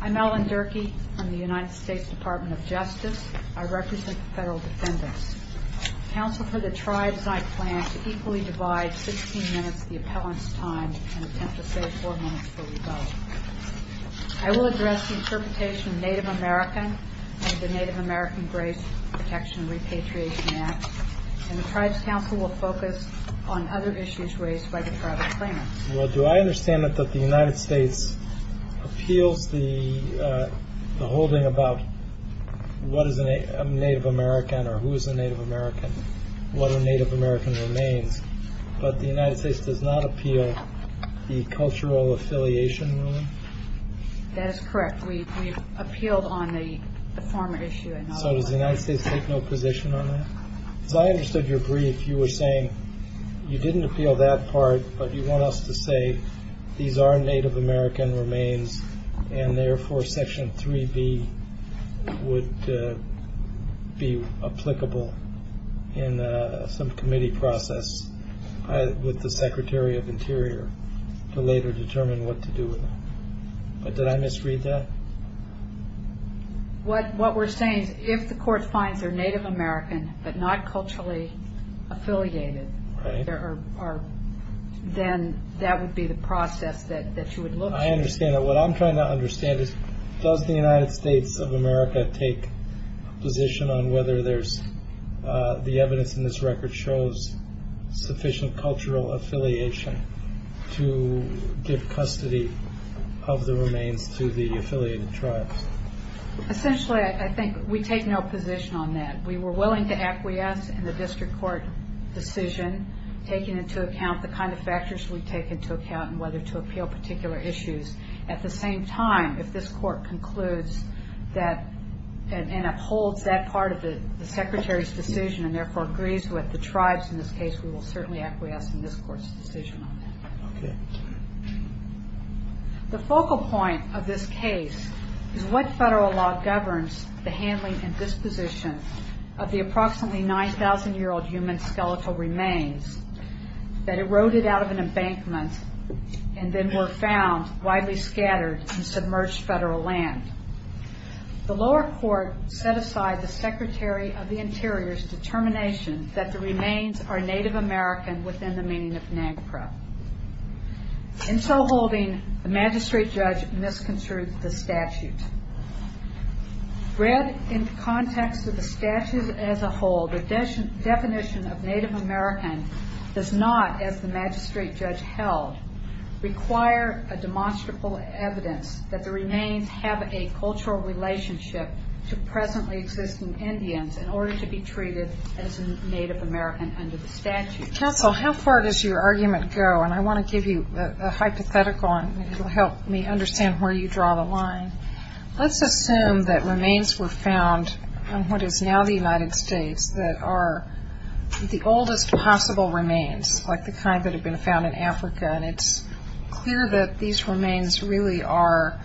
I'm Ellen Durkee from the United States Department of Justice. I represent the federal defendants. Council for the Tribes and I plan to equally divide 16 minutes of the appellant's time and attempt to save 4 minutes for rebuttal. I will address the interpretation of Native American and the Native American Grace Protection and Repatriation Act. And the Tribes Council will focus on other issues raised by the private claimants. Well, do I understand that the United States appeals the holding about what is a Native American or who is a Native American, what a Native American remains, but the United States does not appeal the cultural affiliation ruling? That is correct. We appealed on the former issue. So does the United States take no position on that? As I understood your brief, you were saying you didn't appeal that part, but you want us to say these are Native American remains and therefore Section 3B would be applicable in some committee process with the Secretary of Interior to later determine what to do with them. But did I misread that? What we're saying is if the court finds they're Native American but not culturally affiliated, then that would be the process that you would look at. I understand that. What I'm trying to understand is does the United States of America take a position on whether there's the evidence in this record shows sufficient cultural affiliation to give custody of the remains to the affiliated tribes? Essentially, I think we take no position on that. We were willing to acquiesce in the district court decision, taking into account the kind of factors we take into account and whether to appeal particular issues. At the same time, if this court concludes and upholds that part of the Secretary's decision and therefore agrees with the tribes in this case, we will certainly acquiesce in this court's decision on that. The focal point of this case is what federal law governs the handling and disposition of the approximately 9,000-year-old human skeletal remains that eroded out of an embankment and then were found widely scattered in submerged federal land. The lower court set aside the Secretary of the Interior's determination that the remains are Native American within the meaning of NAGPRA. In so holding, the magistrate judge misconstrued the statute. Read in context of the statute as a whole, the definition of Native American does not, as the magistrate judge held, require a demonstrable evidence that the remains have a cultural relationship to presently existing Indians in order to be treated as Native American under the statute. Counsel, how far does your argument go? And I want to give you a hypothetical, and it will help me understand where you draw the line. Let's assume that remains were found in what is now the United States that are the oldest possible remains, like the kind that have been found in Africa, and it's clear that these remains really are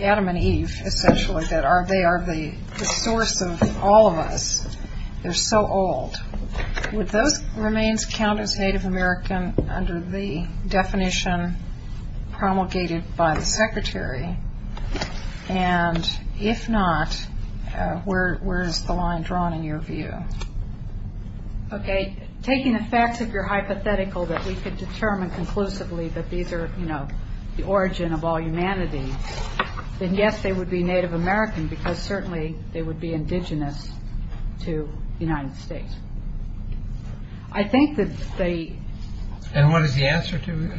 Adam and Eve, essentially, that they are the source of all of us. They're so old. Would those remains count as Native American under the definition promulgated by the Secretary? And if not, where is the line drawn in your view? Okay. Taking the facts, if you're hypothetical, that we could determine conclusively that these are, you know, the origin of all humanity, then yes, they would be Native American because certainly they would be indigenous to the United States. I think that they... And what is the answer to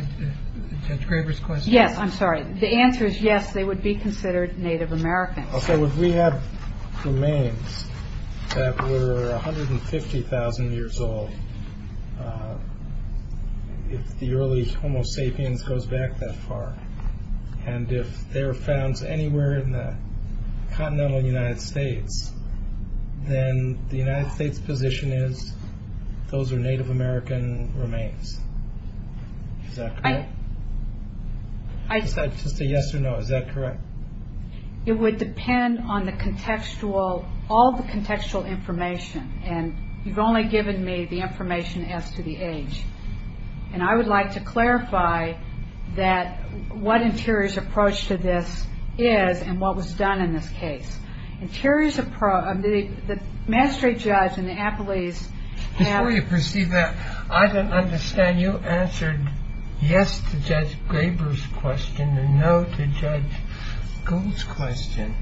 Judge Craver's question? Yes, I'm sorry. The answer is yes, they would be considered Native American. Okay. Would we have remains that were 150,000 years old if the early Homo sapiens goes back that far? And if they were found anywhere in the continental United States, then the United States' position is those are Native American remains. Is that correct? Just a yes or no, is that correct? It would depend on the contextual, all the contextual information, and you've only given me the information as to the age. And I would like to clarify that what Interior's approach to this is and what was done in this case. Interior's approach... The mastery judge in the Appalachians... Before you proceed that, I don't understand. You answered yes to Judge Craver's question and no to Judge Gould's question,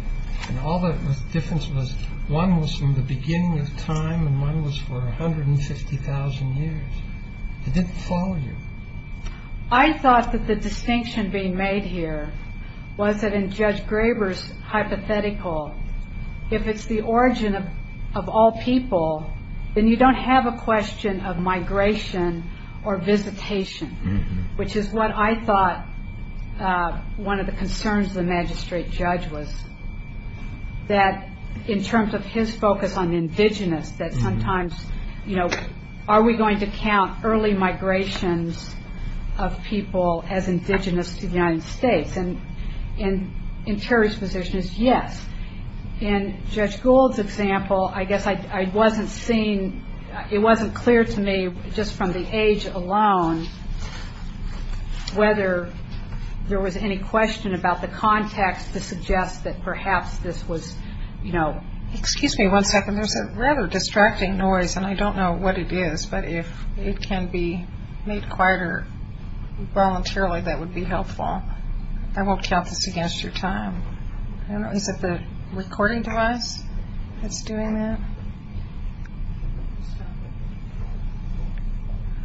and all the difference was one was from the beginning of time and one was for 150,000 years. It didn't follow you. I thought that the distinction being made here was that in Judge Craver's hypothetical, if it's the origin of all people, then you don't have a question of migration or visitation, which is what I thought one of the concerns of the magistrate judge was, that in terms of his focus on indigenous, that sometimes are we going to count early migrations of people as indigenous to the United States? And Interior's position is yes. In Judge Gould's example, I guess I wasn't seeing, it wasn't clear to me just from the age alone whether there was any question about the context to suggest that perhaps this was, you know... Excuse me one second. There's a rather distracting noise, and I don't know what it is, but if it can be made quieter voluntarily, that would be helpful. I won't count this against your time. Is it the recording device that's doing that?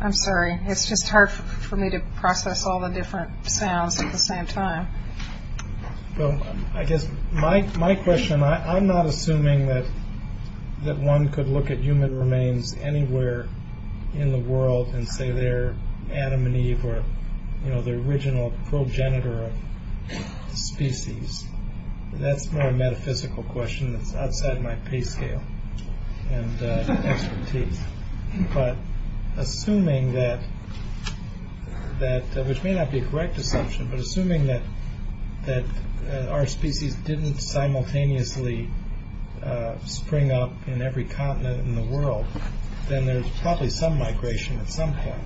I'm sorry. It's just hard for me to process all the different sounds at the same time. Well, I guess my question, I'm not assuming that one could look at human remains anywhere in the world and say they're Adam and Eve or, you know, the original progenitor of species. That's more a metaphysical question that's outside my pay scale and expertise. But assuming that, which may not be a correct assumption, but assuming that our species didn't simultaneously spring up in every continent in the world, then there's probably some migration at some point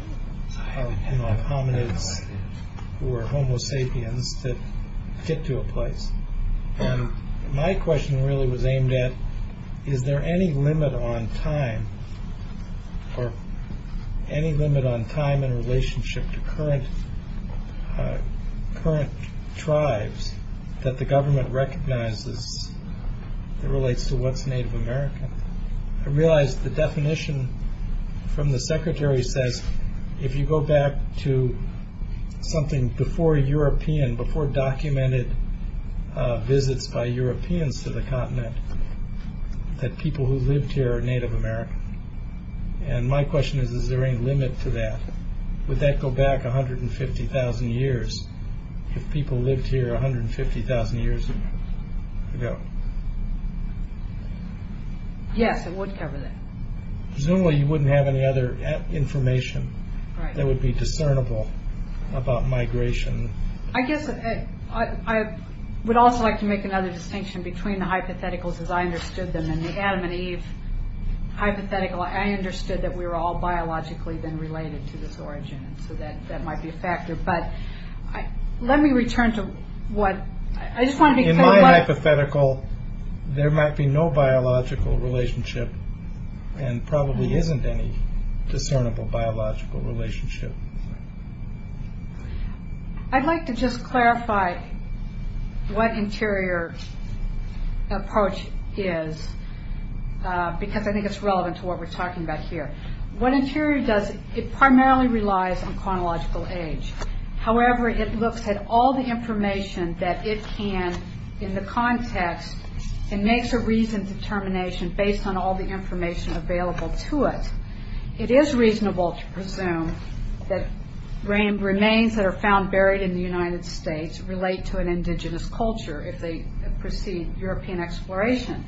of hominids or homo sapiens that get to a place. And my question really was aimed at, is there any limit on time or any limit on time in relationship to current tribes that the government recognizes that relates to what's Native American? I realize the definition from the secretary says, if you go back to something before European, before documented visits by Europeans to the continent, that people who lived here are Native American. And my question is, is there any limit to that? Would that go back 150,000 years if people lived here 150,000 years ago? Yes, it would cover that. Presumably you wouldn't have any other information that would be discernible about migration. I guess I would also like to make another distinction between the hypotheticals as I understood them and the Adam and Eve hypothetical. I understood that we were all biologically then related to this origin, so that might be a factor. But let me return to what I just want to be clear about. In the hypothetical, there might be no biological relationship and probably isn't any discernible biological relationship. I'd like to just clarify what interior approach is, because I think it's relevant to what we're talking about here. What interior does, it primarily relies on chronological age. However, it looks at all the information that it can in the context and makes a reasoned determination based on all the information available to it. It is reasonable to presume that remains that are found buried in the United States relate to an indigenous culture if they precede European exploration.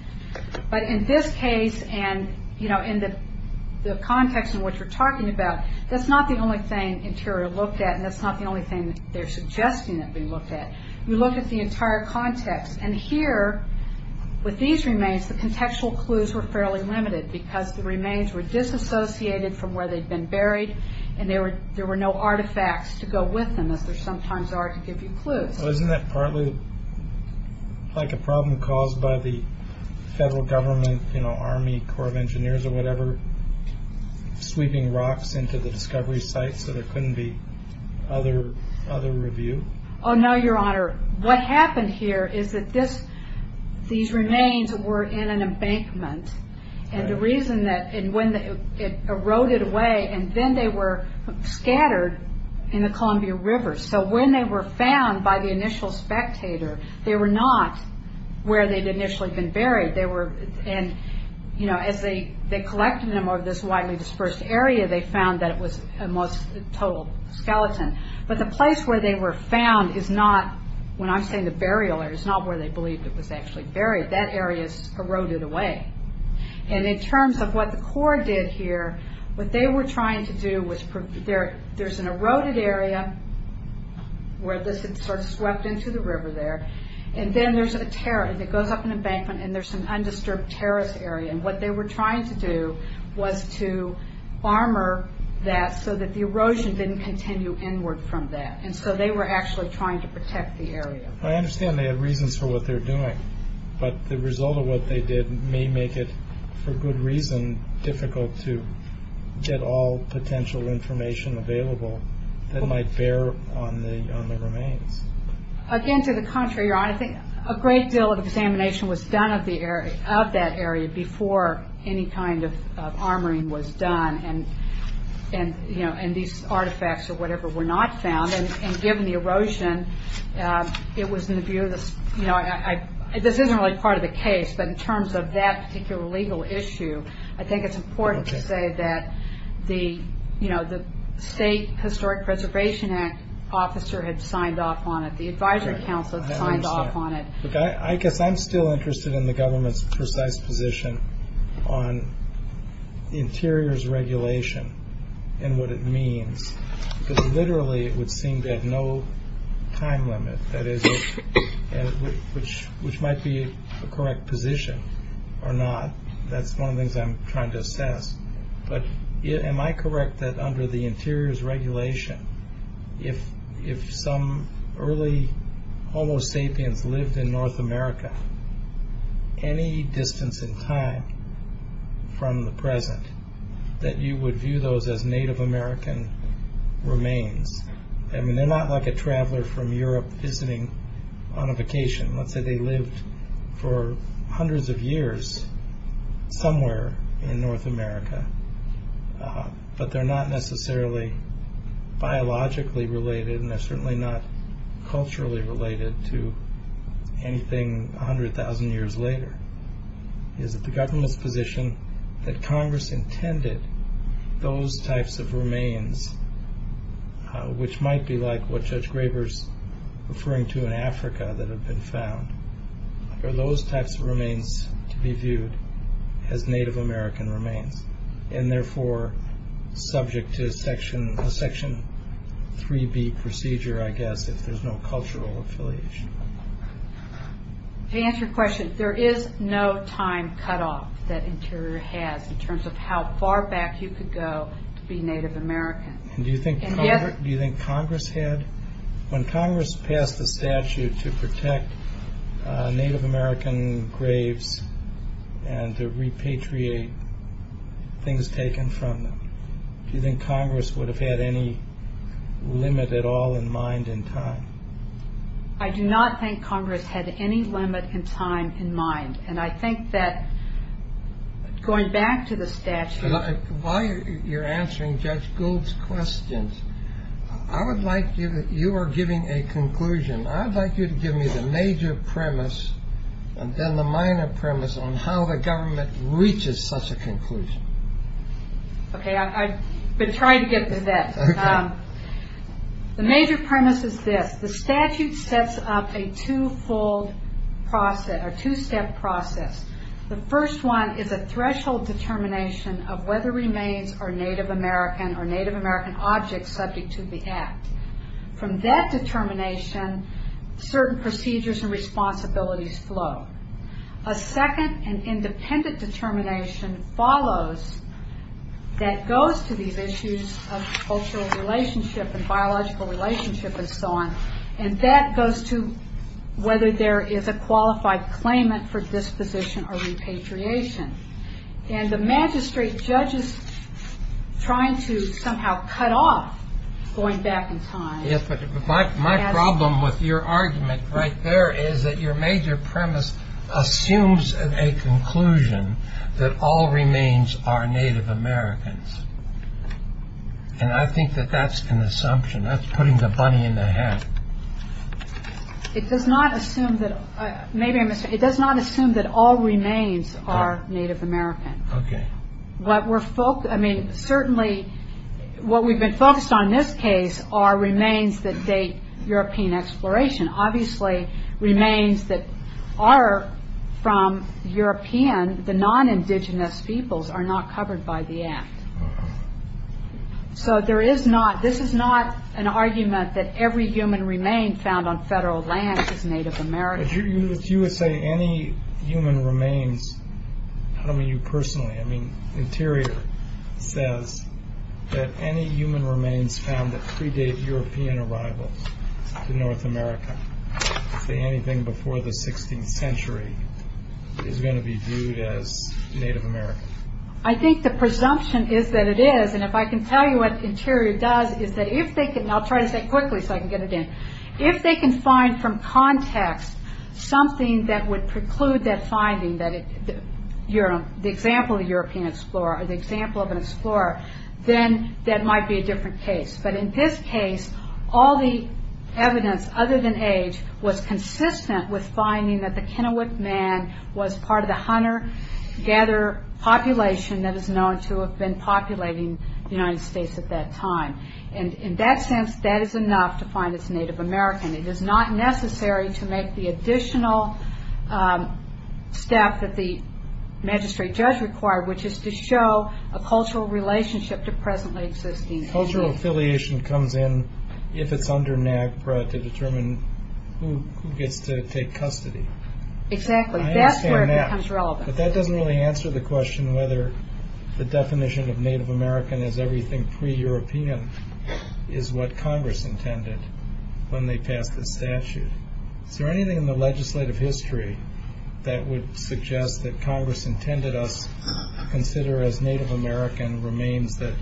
But in this case and in the context in which we're talking about, that's not the only thing interior looked at and that's not the only thing they're suggesting that we look at. We look at the entire context. Here, with these remains, the contextual clues were fairly limited because the remains were disassociated from where they'd been buried and there were no artifacts to go with them as there sometimes are to give you clues. Isn't that partly like a problem caused by the federal government, Army Corps of Engineers or whatever, sweeping rocks into the discovery sites so there couldn't be other review? No, Your Honor. What happened here is that these remains were in an embankment. The reason that it eroded away and then they were scattered in the Columbia River. When they were found by the initial spectator, they were not where they'd initially been buried. As they collected them over this widely dispersed area, they found that it was a total skeleton. But the place where they were found is not, when I'm saying the burial area, it's not where they believed it was actually buried. That area's eroded away. In terms of what the Corps did here, what they were trying to do was there's an eroded area where this had swept into the river there. Then there's a terrace that goes up in the embankment and there's an undisturbed terrace area. What they were trying to do was to armor that so that the erosion didn't continue inward from that. They were actually trying to protect the area. I understand they had reasons for what they were doing, but the result of what they did may make it, for good reason, difficult to get all potential information available that might bear on the remains. Again, to the contrary, Your Honor, I think a great deal of examination was done of that area before any kind of armoring was done. These artifacts or whatever were not found. Given the erosion, it was in the view of the... This isn't really part of the case, but in terms of that particular legal issue, I think it's important to say that the State Historic Preservation Act officer had signed off on it. The advisory council had signed off on it. I guess I'm still interested in the government's precise position on interiors regulation and what it means. Literally, it would seem to have no time limit, which might be a correct position or not. That's one of the things I'm trying to assess. Am I correct that under the interiors regulation, if some early Homo sapiens lived in North America, any distance in time from the present, that you would view those as Native American remains? They're not like a traveler from Europe visiting on a vacation. Let's say they lived for hundreds of years somewhere in North America, but they're not necessarily biologically related and they're certainly not culturally related to anything 100,000 years later. Is it the government's position that Congress intended those types of remains, which might be like what Judge Graber's referring to in Africa that have been found, are those types of remains to be viewed as Native American remains and therefore subject to a Section 3B procedure, I guess, if there's no cultural affiliation? To answer your question, there is no time cutoff that interior has in terms of how far back you could go to be Native American. Do you think Congress had? When Congress passed the statute to protect Native American graves and to repatriate things taken from them, do you think Congress would have had any limit at all in mind in time? I do not think Congress had any limit in time in mind, and I think that going back to the statute... While you're answering Judge Gould's questions, you are giving a conclusion. I'd like you to give me the major premise and then the minor premise on how the government reaches such a conclusion. Okay, I've been trying to get to that. The major premise is this. The statute sets up a two-step process. The first one is a threshold determination of whether remains are Native American or Native American objects subject to the act. From that determination, certain procedures and responsibilities flow. A second, an independent determination, follows that goes to these issues of cultural relationship and biological relationship and so on, and that goes to whether there is a qualified claimant for disposition or repatriation. And the magistrate judges trying to somehow cut off going back in time... Yes, but my problem with your argument right there is that your major premise assumes a conclusion that all remains are Native Americans, and I think that that's an assumption. That's putting the bunny in the hat. It does not assume that all remains are Native American. Okay. I mean, certainly what we've been focused on in this case are remains that date European exploration. Obviously, remains that are from European, the non-indigenous peoples, are not covered by the act. So this is not an argument that every human remain found on federal land is Native American. But you would say any human remains... I don't mean you personally. I mean, Interior says that any human remains found that predate European arrivals to North America, say anything before the 16th century, is going to be viewed as Native American. I think the presumption is that it is, and if I can tell you what Interior does, is that if they can... I'll try to say it quickly so I can get it in. If they can find from context something that would preclude that finding, the example of a European explorer, or the example of an explorer, then that might be a different case. But in this case, all the evidence other than age was consistent with finding that the Kennewick Man was part of the hunter-gatherer population that is known to have been populating the United States at that time. In that sense, that is enough to find it's Native American. It is not necessary to make the additional step that the magistrate judge required, which is to show a cultural relationship to presently existing... Cultural affiliation comes in if it's under NAGPRA to determine who gets to take custody. Exactly. That's where it becomes relevant. But that doesn't really answer the question whether the definition of Native American as everything pre-European is what Congress intended when they passed this statute. Is there anything in the legislative history that would suggest that Congress intended us to consider as Native American remains that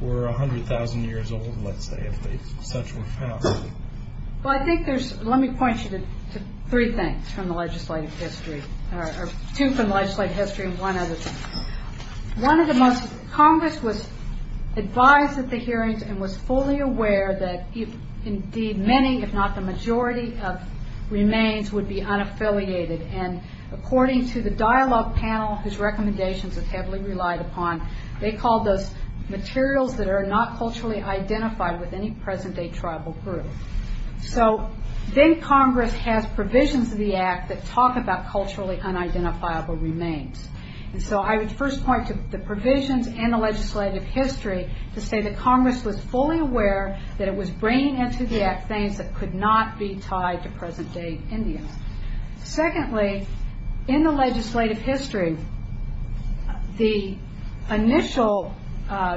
were 100,000 years old, let's say, if such were found? Well, I think there's... Let me point you to three things from the legislative history. Two from the legislative history and one other thing. One of the most... Congress was advised at the hearings and was fully aware that indeed many, if not the majority of remains, would be unaffiliated. And according to the dialogue panel, whose recommendations it heavily relied upon, they called those materials that are not culturally identified with any present-day tribal group. So then Congress has provisions of the Act that talk about culturally unidentifiable remains. And so I would first point to the provisions in the legislative history to say that Congress was fully aware that it was bringing into the Act things that could not be tied to present-day Indians. Secondly, in the legislative history, the initial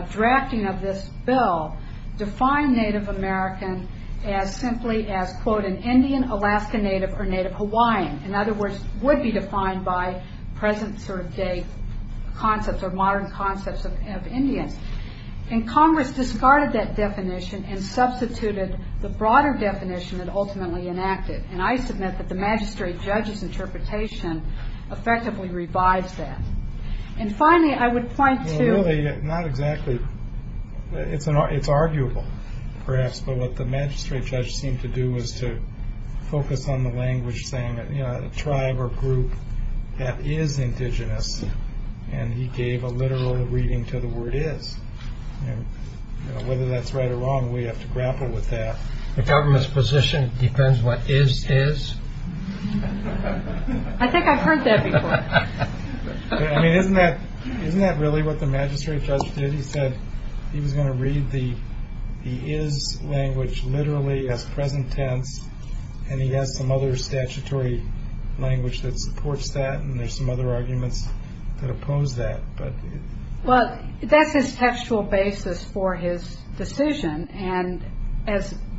drafting of this bill defined Native American as simply as, quote, an Indian, Alaska Native, or Native Hawaiian. In other words, would be defined by present-day concepts or modern concepts of Indians. And Congress discarded that definition and substituted the broader definition that ultimately enacted. And I submit that the magistrate judge's interpretation effectively revives that. And finally, I would point to... It's arguable, perhaps, but what the magistrate judge seemed to do was to focus on the language saying that a tribe or group that is indigenous, and he gave a literal reading to the word is. And whether that's right or wrong, we have to grapple with that. The government's position depends what is is? I think I've heard that before. I mean, isn't that really what the magistrate judge did? He said he was going to read the is language literally as present tense, and he has some other statutory language that supports that, and there's some other arguments that oppose that. Well, that's his textual basis for his decision.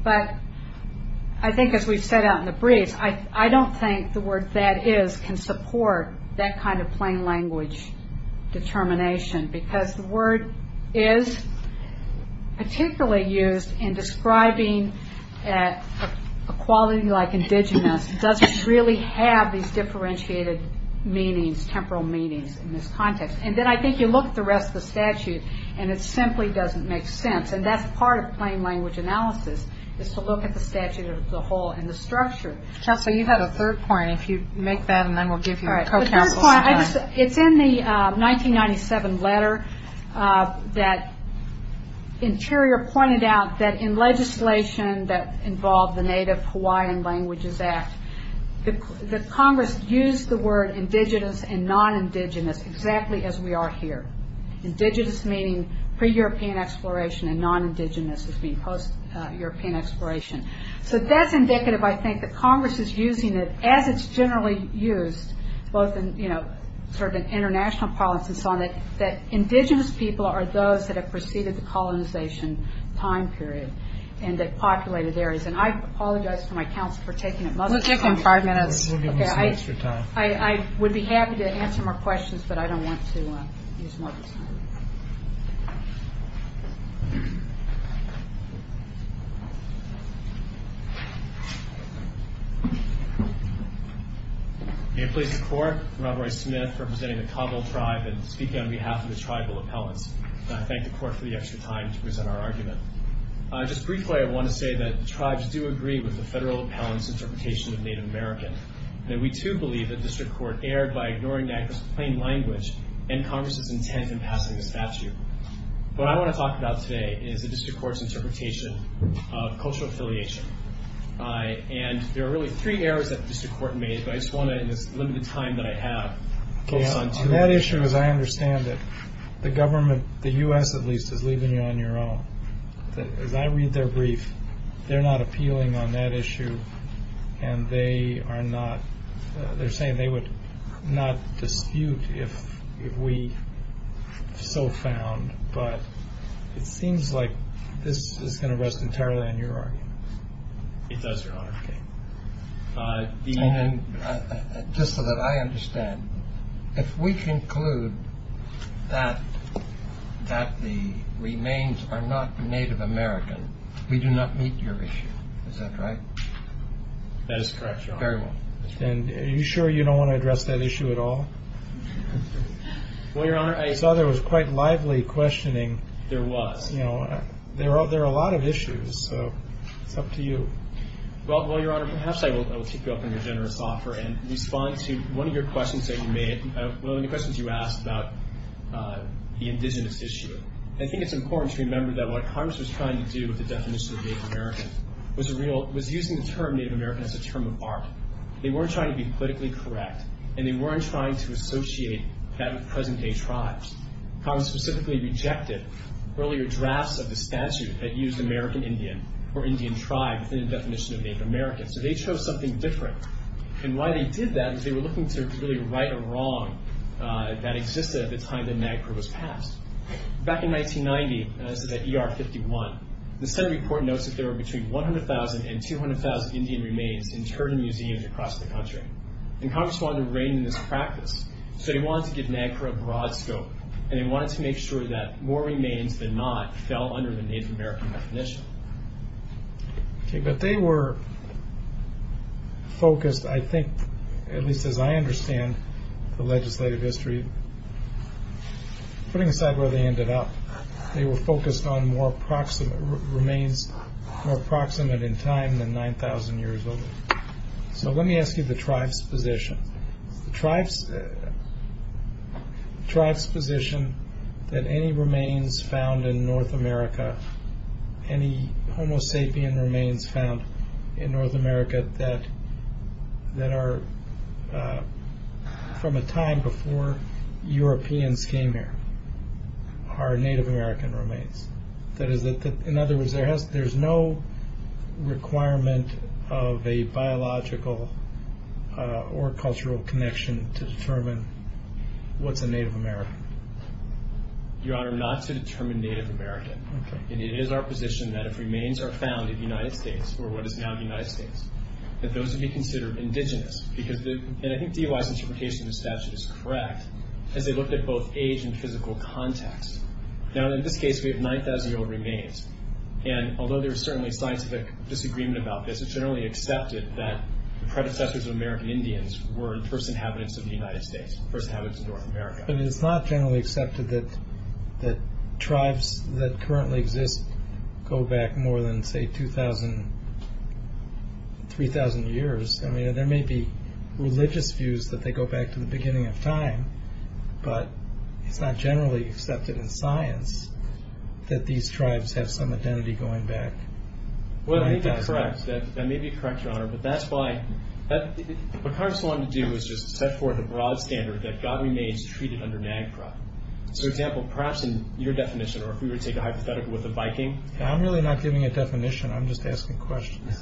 But I think, as we've set out in the brief, I don't think the word that is can support that kind of plain language determination, because the word is particularly used in describing a quality like indigenous doesn't really have these differentiated meanings, temporal meanings, in this context. And then I think you look at the rest of the statute, and it simply doesn't make sense, and that's part of plain language analysis, is to look at the statute as a whole and the structure. Counsel, you had a third point. and then we'll give you a co-counsel's time. It's in the 1997 letter that Interior pointed out that in legislation that involved the Native Hawaiian Languages Act, that Congress used the word indigenous and non-indigenous exactly as we are here. Indigenous meaning pre-European exploration, and non-indigenous as being post-European exploration. So that's indicative, I think, that Congress is using it as it's generally used, both in international politics and so on, that indigenous people are those that have preceded the colonization time period and that populated areas. And I apologize for my counsel for taking it much too long. We'll take them five minutes. We'll give them some extra time. I would be happy to answer more questions, but I don't want to use more of his time. Thank you. May it please the Court, I'm Rob Roy Smith, representing the Cabo tribe and speaking on behalf of the tribal appellants. And I thank the Court for the extra time to present our argument. Just briefly, I want to say that tribes do agree with the federal appellant's interpretation of Native American. And we, too, believe that district court erred by ignoring NACLA's plain language and Congress's intent in passing the statute. What I want to talk about today is the district court's interpretation of cultural affiliation. And there are really three errors that the district court made, but I just want to, in this limited time that I have, focus on two of them. On that issue, as I understand it, the government, the U.S. at least, is leaving you on your own. As I read their brief, they're not appealing on that issue, and they are not... They're saying they would not dispute if we so found. But it seems like this is going to rest entirely on your argument. It does, Your Honor. Just so that I understand, if we conclude that the remains are not Native American, we do not meet your issue. Is that right? That is correct, Your Honor. Are you sure you don't want to address that issue at all? Well, Your Honor, I saw there was quite lively questioning. There was. There are a lot of issues, so it's up to you. Well, Your Honor, perhaps I will keep you up on your generous offer and respond to one of your questions that you made, one of the questions you asked about the indigenous issue. I think it's important to remember that what Congress was trying to do with the definition of Native American was using the term Native American as a term of art. They weren't trying to be politically correct, and they weren't trying to associate that with present-day tribes. Congress specifically rejected earlier drafts of the statute that used American Indian or Indian tribe within the definition of Native American, so they chose something different. And why they did that was they were looking to really right a wrong that existed at the time that NAGPRA was passed. Back in 1990, and this is at ER 51, the Senate report notes that there were between 100,000 and 200,000 Indian remains in Turner Museums across the country. And Congress wanted to rein in this practice, so they wanted to give NAGPRA a broad scope, and they wanted to make sure that more remains than not fell under the Native American definition. Okay, but they were focused, I think, at least as I understand the legislative history, putting aside where they ended up, they were focused on remains more proximate in time than 9,000 years old. So let me ask you the tribe's position. The tribe's position that any remains found in North America, any Homo sapien remains found in North America that are from a time before Europeans came here are Native American remains. That is, in other words, there's no requirement of a biological or cultural connection to determine what's a Native American. Your Honor, not to determine Native American. It is our position that if remains are found in the United States, or what is now the United States, that those would be considered indigenous. And I think DOI's interpretation of the statute is correct, as they looked at both age and physical context. Now, in this case, we have 9,000-year-old remains. And although there's certainly scientific disagreement about this, it's generally accepted that the predecessors of American Indians were the first inhabitants of the United States, the first inhabitants of North America. But it's not generally accepted that tribes that currently exist go back more than, say, 2,000, 3,000 years. I mean, there may be religious views that they go back to the beginning of time, but it's not generally accepted in science that these tribes have some identity going back. Well, I think that's correct. That may be correct, Your Honor. But that's why... What Congress wanted to do was just set forth a broad standard that God remains treated under NAGPRA. So, for example, perhaps in your definition, or if we were to take a hypothetical with a Viking... I'm really not giving a definition. I'm just asking questions.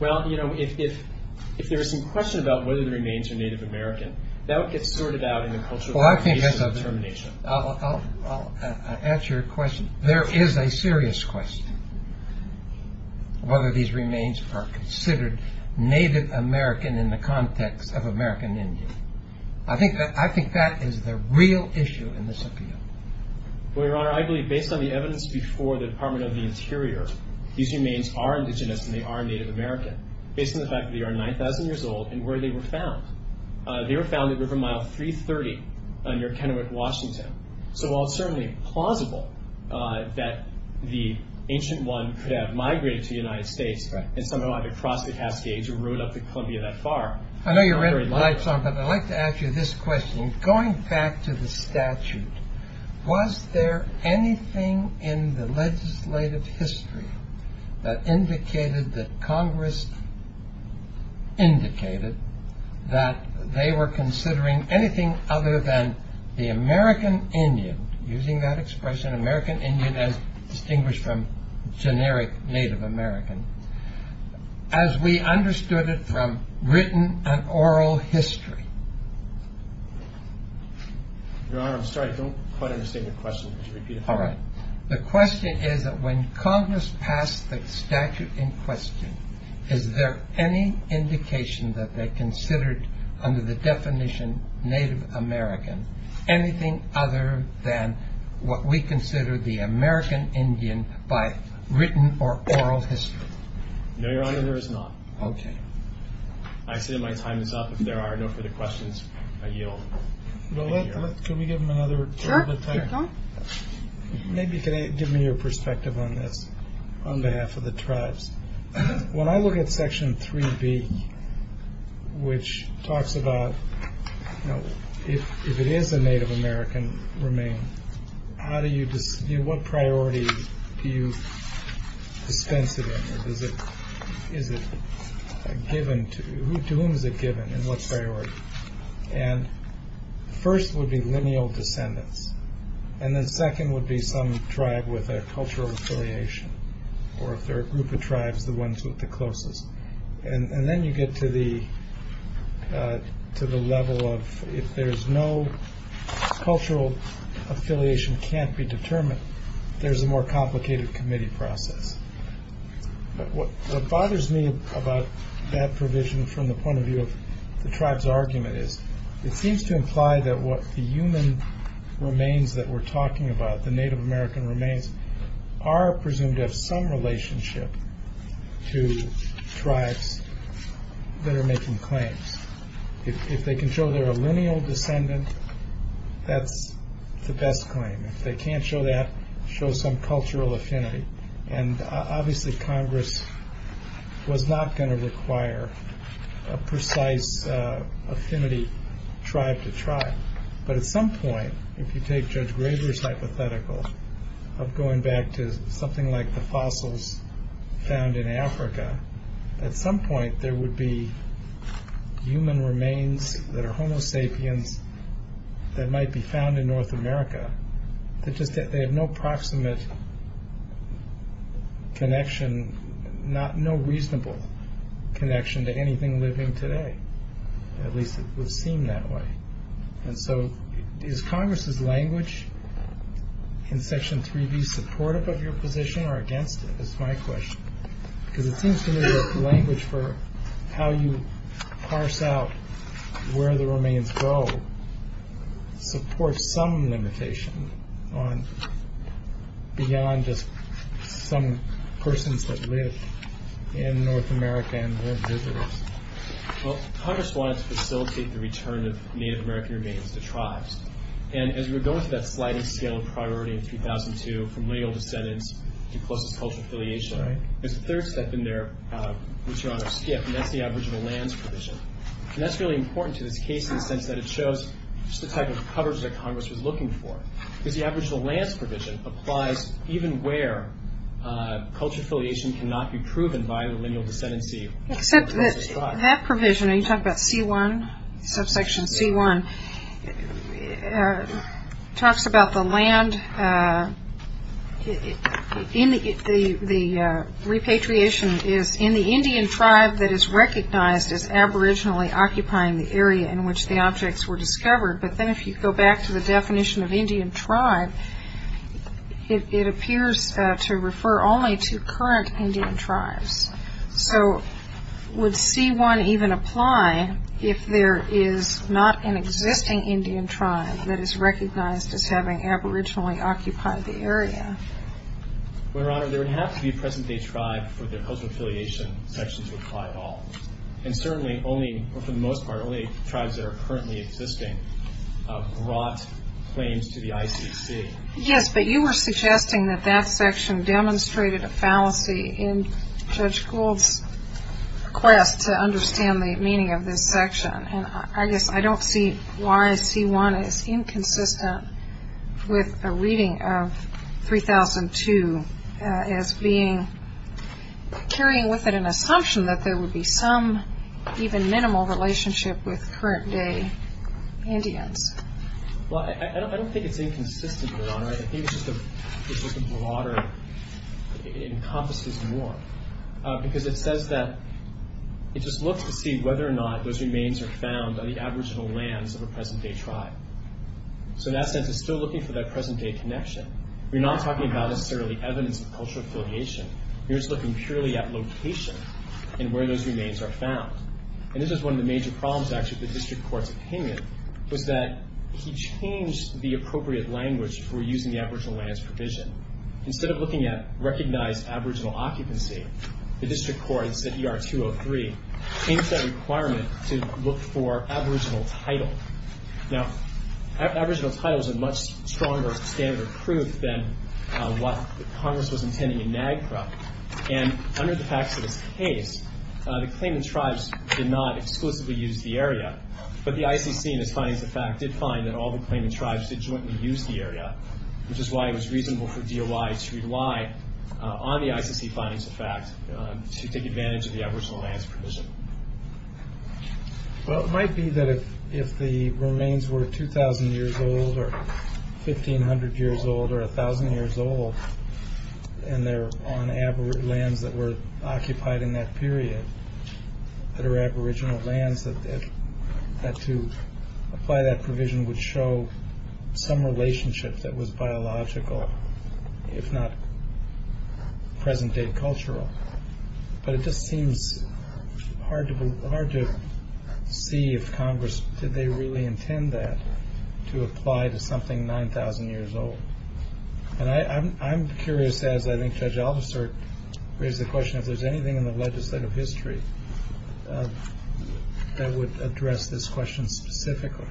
Well, you know, if there is some question about whether the remains are Native American, that would get sorted out in the Cultural Communications Determination. I'll answer your question. There is a serious question whether these remains are considered Native American in the context of American Indian. I think that is the real issue in this appeal. Well, Your Honor, I believe, based on the evidence before the Department of the Interior, these remains are indigenous and they are Native American based on the fact that they are 9,000 years old and where they were found. They were found at River Mile 330 near Kennewick, Washington. So while it's certainly plausible that the ancient one could have migrated to the United States and somehow either crossed the Cascades or rode up to Columbia that far... I know you're running lights on, but I'd like to ask you this question. Going back to the statute, was there anything in the legislative history that indicated that Congress indicated that they were considering anything other than the American Indian, using that expression, American Indian, as distinguished from generic Native American, as we understood it from written and oral history? Your Honor, I'm sorry. I don't quite understand your question. Could you repeat it? All right. The question is that when Congress passed the statute in question, is there any indication that they considered, under the definition Native American, anything other than what we consider the American Indian by written or oral history? No, Your Honor, there is not. Okay. I say my time is up. If there are no further questions, I yield. Well, let's... Can we give them another... Sure. Maybe if you could give me your perspective on this, on behalf of the tribes. When I look at Section 3B, which talks about if it is a Native American remain, what priority do you dispense it in? Is it given to... To whom is it given, and what's priority? And first would be lineal descendants, and then second would be some tribe with a cultural affiliation, or if they're a group of tribes, the ones with the closest. And then you get to the level of if there's no cultural affiliation can't be determined, there's a more complicated committee process. What bothers me about that provision from the point of view of the tribe's argument is it seems to imply that what the human remains that we're talking about, the Native American remains, are presumed to have some relationship to tribes that are making claims. If they can show they're a lineal descendant, that's the best claim. If they can't show that, show some cultural affinity. And obviously Congress was not going to require a precise affinity tribe to tribe. But at some point, if you take Judge Graber's hypothetical of going back to something like the fossils found in Africa, at some point there would be human remains that are Homo sapiens that might be found in North America that just have no proximate connection, no reasonable connection to anything living today. At least it would seem that way. And so is Congress's language in Section 3B supportive of your position or against it? That's my question. Because it seems to me that the language for how you parse out where the remains go supports some limitation beyond just some persons that live in North America and their visitors. Well, Congress wanted to facilitate the return of Native American remains to tribes. And as we were going through that sliding scale of priority in 2002 from lineal descendants to closest cultural affiliation, there's a third step in there which Your Honor skipped, and that's the aboriginal lands provision. And that's really important to this case in the sense that it shows just the type of coverage that Congress was looking for. Because the aboriginal lands provision applies even where cultural affiliation cannot be proven by the lineal descendancy of the closest tribe. Except that that provision, and you talk about C1, subsection C1, talks about the land, the repatriation is in the Indian tribe that is recognized as aboriginally occupying the area in which the objects were discovered. But then if you go back to the definition of Indian tribe, it appears to refer only to current Indian tribes. So would C1 even apply if there is not an existing Indian tribe that is recognized as having aboriginally occupied the area? Well, Your Honor, there would have to be a present-day tribe for the cultural affiliation section to apply at all. And certainly only, for the most part, only tribes that are currently existing brought claims to the ICC. Yes, but you were suggesting that that section demonstrated a fallacy in Judge Gould's quest to understand the meaning of this section. And I guess I don't see why C1 is inconsistent with a reading of 3002 as being carrying with it an assumption that there would be some even minimal relationship with current-day Indians. Well, I don't think it's inconsistent, Your Honor. I think it's just a broader, it encompasses more. Because it says that it just looks to see whether or not those remains are found on the aboriginal lands of a present-day tribe. So in that sense, it's still looking for that present-day connection. We're not talking about necessarily evidence of cultural affiliation. We're just looking purely at location and where those remains are found. And this is one of the major problems, actually, with the District Court's opinion, was that he changed the appropriate language for using the aboriginal lands provision. Instead of looking at recognized aboriginal occupancy, the District Court said ER-203 changed that requirement to look for aboriginal title. Now, aboriginal title is a much stronger standard of proof than what Congress was intending in NAGPRA. And under the facts of this case, the claimant tribes did not exclusively use the area. But the ICC, in its findings of fact, did find that all the claimant tribes did jointly use the area, which is why it was reasonable for DOI to rely on the ICC findings of fact to take advantage of the aboriginal lands provision. Well, it might be that if the remains were 2,000 years old or 1,500 years old or 1,000 years old, and they're on lands that were occupied in that period, that are aboriginal lands, that to apply that provision would show some relationship that was biological, if not present-day cultural. But it just seems hard to see if Congress, did they really intend that, to apply to something 9,000 years old. And I'm curious, as I think Judge Aldister raised the question, if there's anything in the legislative history that would address this question specifically.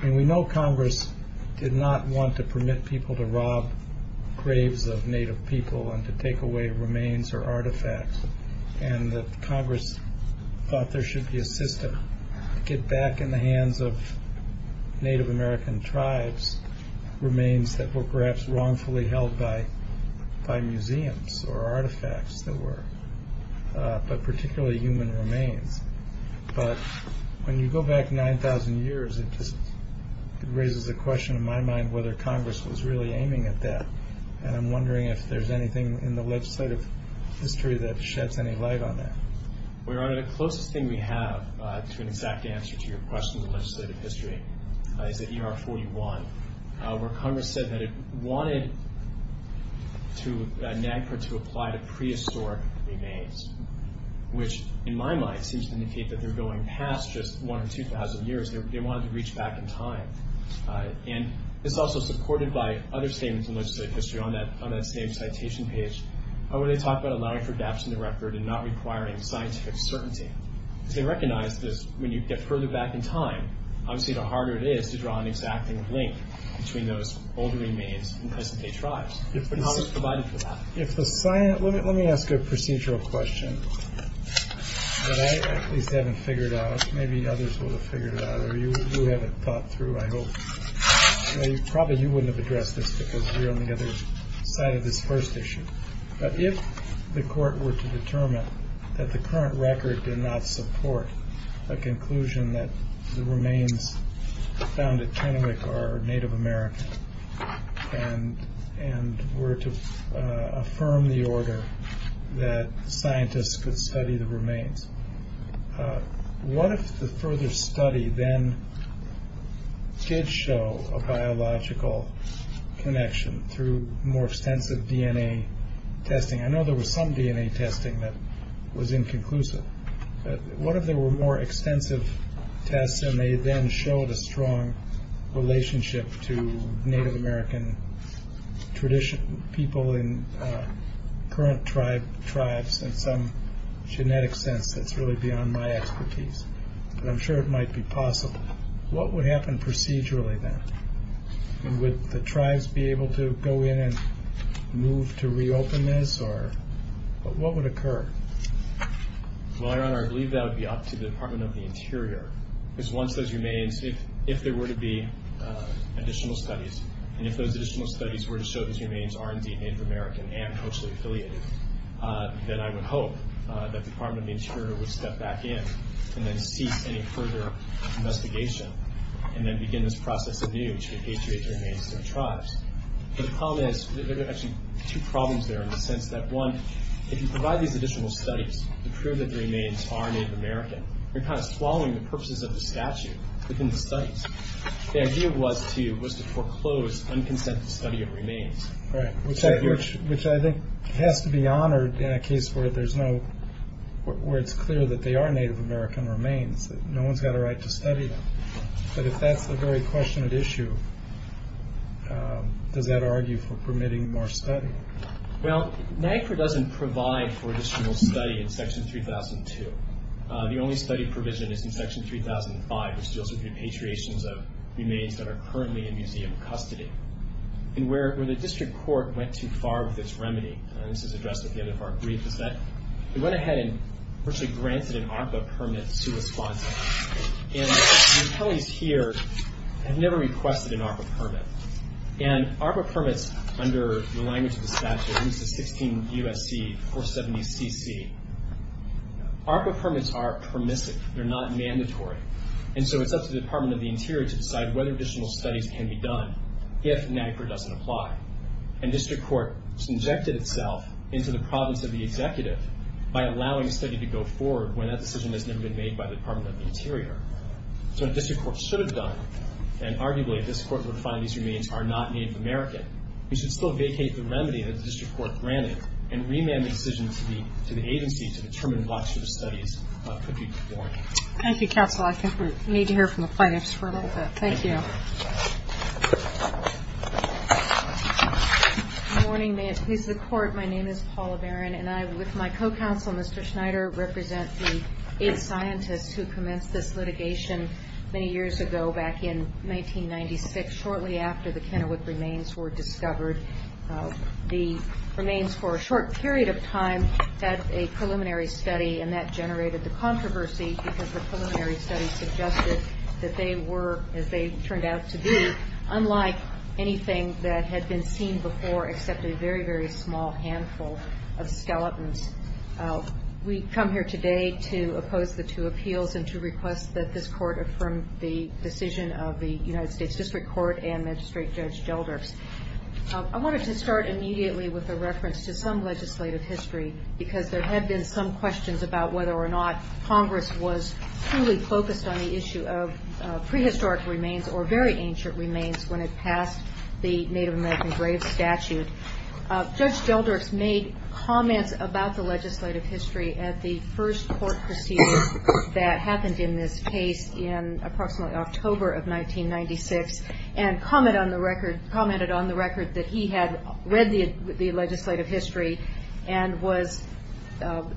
I mean, we know Congress did not want to permit people to rob graves of Native people and to take away remains or artifacts, and that Congress thought there should be a system to get back in the hands of Native American tribes remains that were perhaps wrongfully held by museums or artifacts that were, but particularly human remains. But when you go back 9,000 years, it just raises a question in my mind whether Congress was really aiming at that. And I'm wondering if there's anything in the legislative history that sheds any light on that. Well, Your Honor, the closest thing we have to an exact answer to your question in the legislative history is at ER-41, where Congress said that it wanted NAGPRA to apply to prehistoric remains, which in my mind seems to indicate that they're going past just 1,000 or 2,000 years. They wanted to reach back in time. And it's also supported by other statements in legislative history on that same citation page where they talk about allowing for adaption to record and not requiring scientific certainty. They recognize that when you get further back in time, obviously the harder it is to draw an exacting link between those older remains and present-day tribes. But Congress provided for that. Let me ask a procedural question that I at least haven't figured out. Maybe others will have figured it out, or you haven't thought through, I hope. Probably you wouldn't have addressed this because we're on the other side of this first issue. But if the court were to determine that the current record did not support a conclusion that the remains found at Kennewick are Native American and were to affirm the order that scientists could study the remains, what if the further study then did show a biological connection through more extensive DNA testing? I know there was some DNA testing that was inconclusive. What if there were more extensive tests and they then showed a strong relationship to Native American people in current tribes in some genetic sense that's really beyond my expertise? But I'm sure it might be possible. What would happen procedurally then? Would the tribes be able to go in and move to reopen this? What would occur? Well, Your Honor, I believe that would be up to the Department of the Interior. Because once those remains, if there were to be additional studies, and if those additional studies were to show these remains are indeed Native American and closely affiliated, then I would hope that the Department of the Interior would step back in and then cease any further investigation and then begin this process anew to repatriate the remains to the tribes. But the problem is, there are actually two problems there in the sense that, one, if you provide these additional studies to prove that the remains are Native American, you're kind of swallowing the purposes of the statute within the studies. The idea was to foreclose unconsented study of remains. Right, which I think has to be honored in a case where it's clear that they are Native American remains, that no one's got a right to study them. But if that's a very question of issue, does that argue for permitting more study? Well, NAGPRA doesn't provide for additional study in Section 3002. The only study provision is in Section 3005, which deals with repatriations of remains that are currently in museum custody. And where the district court went too far with its remedy, and this is addressed at the end of our brief, is that they went ahead and virtually granted an ARPA permit to respond to this. And the attorneys here have never requested an ARPA permit. And ARPA permits under the language of the statute, at least the 16 U.S.C. 470CC, ARPA permits are permissive. They're not mandatory. And so it's up to the Department of the Interior to decide whether additional studies can be done if NAGPRA doesn't apply. And district court injected itself into the problems of the executive by allowing a study to go forward when that decision has never been made by the Department of the Interior. So what district court should have done, and arguably a district court would find these remains are not Native American, we should still vacate the remedy that the district court granted and remand the decision to the agency to determine what sort of studies could be performed. Thank you, counsel. I think we need to hear from the plaintiffs for a little bit. Thank you. Good morning. May it please the Court. My name is Paula Barron, and I, with my co-counsel, Mr. Schneider, represent the AIDS scientists who commenced this litigation many years ago, back in 1996, shortly after the Kennewick remains were discovered. The remains, for a short period of time, had a preliminary study, and that generated the controversy because the preliminary study suggested that they were, as they turned out to be, unlike anything that had been seen before except a very, very small handful of skeletons. We come here today to oppose the two appeals and to request that this Court affirm the decision of the United States District Court and Magistrate Judge Gelders. I wanted to start immediately with a reference to some legislative history because there had been some questions about whether or not Congress was fully focused on the issue of prehistoric remains or very ancient remains when it passed the Native American grave statute. Judge Gelders made comments about the legislative history at the first court proceeding that happened in this case in approximately October of 1996 and commented on the record that he had read the legislative history and was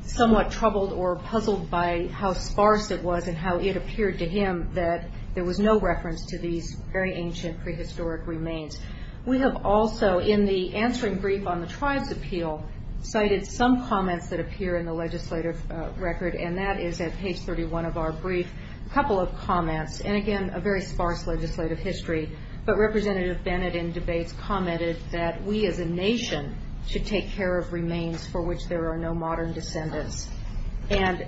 somewhat troubled or puzzled by how sparse it was and how it appeared to him that there was no reference to these very ancient prehistoric remains. We have also, in the answering brief on the tribes appeal, cited some comments that appear in the legislative record, and that is at page 31 of our brief, a couple of comments, and again, a very sparse legislative history. But Representative Bennett, in debates, commented that we as a nation should take care of remains for which there are no modern descendants. And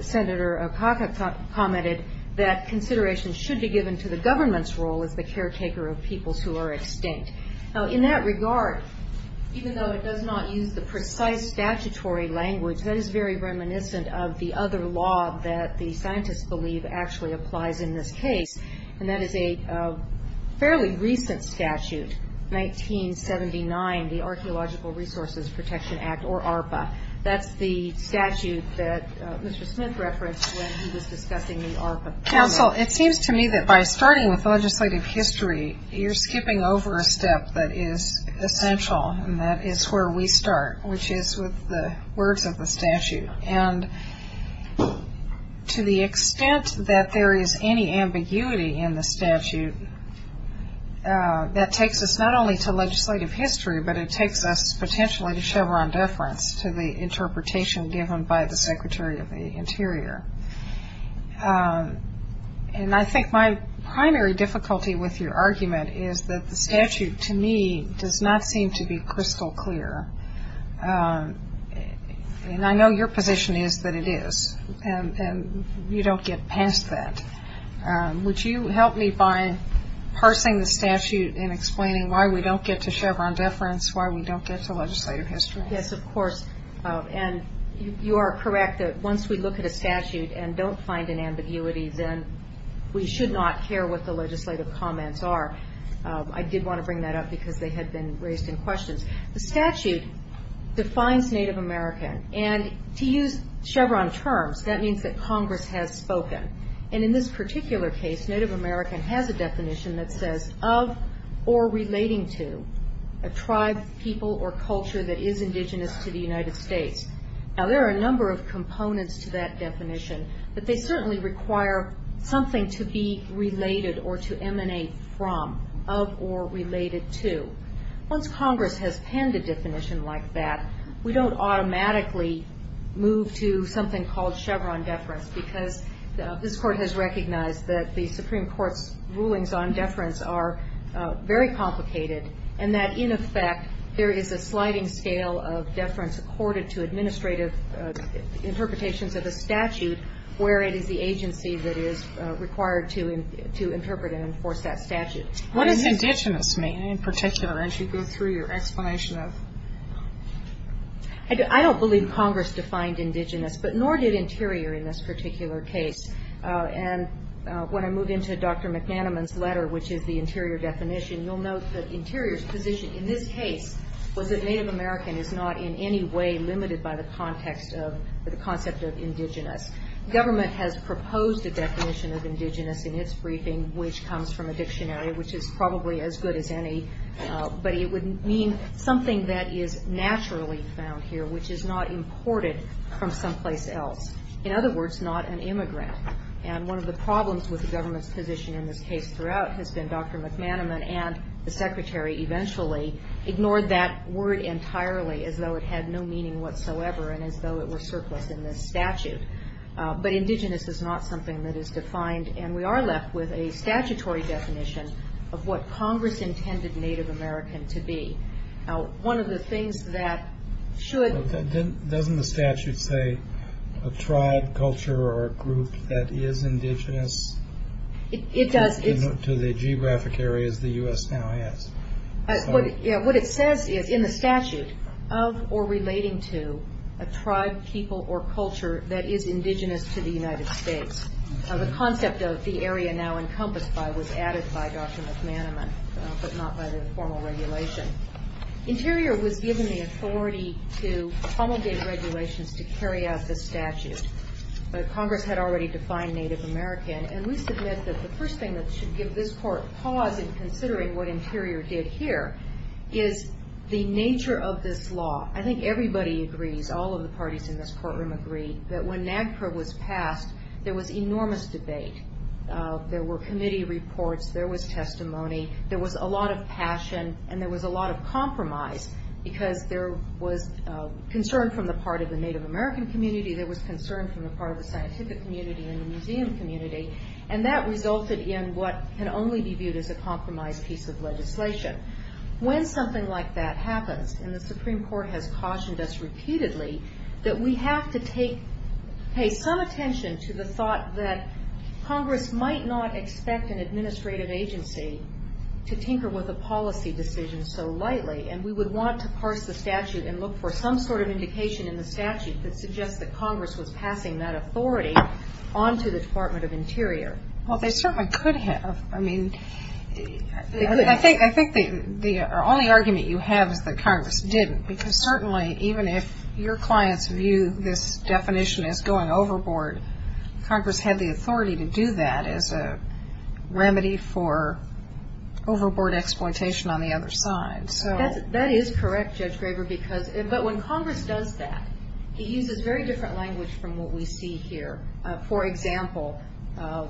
Senator Akaka commented that consideration should be given to the government's role as the caretaker of peoples who are extinct. Now, in that regard, even though it does not use the precise statutory language, that is very reminiscent of the other law that the scientists believe actually applies in this case, and that is a fairly recent statute, 1979, the Archaeological Resources Protection Act, or ARPA. That's the statute that Mr. Smith referenced when he was discussing the ARPA. Counsel, it seems to me that by starting with legislative history, you're skipping over a step that is essential, and that is where we start, which is with the words of the statute. And to the extent that there is any ambiguity in the statute, that takes us not only to legislative history, but it takes us potentially to Chevron deference to the interpretation given by the Secretary of the Interior. And I think my primary difficulty with your argument is that the statute, to me, does not seem to be crystal clear. And I know your position is that it is, and you don't get past that. Would you help me by parsing the statute and explaining why we don't get to Chevron deference, why we don't get to legislative history? Yes, of course. And you are correct that once we look at a statute and don't find an ambiguity, then we should not care what the legislative comments are. I did want to bring that up because they had been raised in questions. The statute defines Native American. And to use Chevron terms, that means that Congress has spoken. And in this particular case, Native American has a definition that says, of or relating to a tribe, people, or culture that is indigenous to the United States. Now, there are a number of components to that definition, but they certainly require something to be related or to emanate from, of or related to. Once Congress has penned a definition like that, we don't automatically move to something called Chevron deference, because this Court has recognized that the Supreme Court's rulings on deference are very complicated and that, in effect, there is a sliding scale of deference accorded to administrative interpretations of a statute where it is the agency that is required to interpret and enforce that statute. What does indigenous mean, in particular, as you go through your explanation of it? I don't believe Congress defined indigenous, but nor did Interior in this particular case. And when I move into Dr. McNanaman's letter, which is the Interior definition, you'll note that Interior's position in this case was that Native American is not in any way limited by the concept of indigenous. Government has proposed a definition of indigenous in its briefing, which comes from a dictionary, which is probably as good as any, but it would mean something that is naturally found here, which is not imported from someplace else. In other words, not an immigrant. And one of the problems with the government's position in this case throughout has been Dr. McNanaman and the Secretary eventually ignored that word entirely as though it had no meaning whatsoever and as though it were surplus in this statute. But indigenous is not something that is defined, and we are left with a statutory definition of what Congress intended Native American to be. Now, one of the things that should... Doesn't the statute say a tribe, culture, or group that is indigenous? It does. To the geographic areas the U.S. now has. What it says is in the statute, of or relating to a tribe, people, or culture that is indigenous to the United States. The concept of the area now encompassed by was added by Dr. McNanaman, but not by the formal regulation. Interior was given the authority to promulgate regulations to carry out this statute, but Congress had already defined Native American, and we submit that the first thing that should give this court pause in considering what Interior did here is the nature of this law. I think everybody agrees, all of the parties in this courtroom agree, that when NAGPRA was passed, there was enormous debate. There were committee reports. There was testimony. There was a lot of passion, and there was a lot of compromise because there was concern from the part of the Native American community. There was concern from the part of the scientific community and the museum community, and that resulted in what can only be viewed as a compromised piece of legislation. When something like that happens, and the Supreme Court has cautioned us repeatedly that we have to pay some attention to the thought that Congress might not expect an administrative agency to tinker with a policy decision so lightly, and we would want to parse the statute and look for some sort of indication in the statute that suggests that Congress was passing that authority on to the Department of Interior. Well, they certainly could have. I mean, I think the only argument you have is that Congress didn't because certainly even if your clients view this definition as going overboard, Congress had the authority to do that as a remedy for overboard exploitation on the other side. That is correct, Judge Graber. But when Congress does that, it uses very different language from what we see here. For example,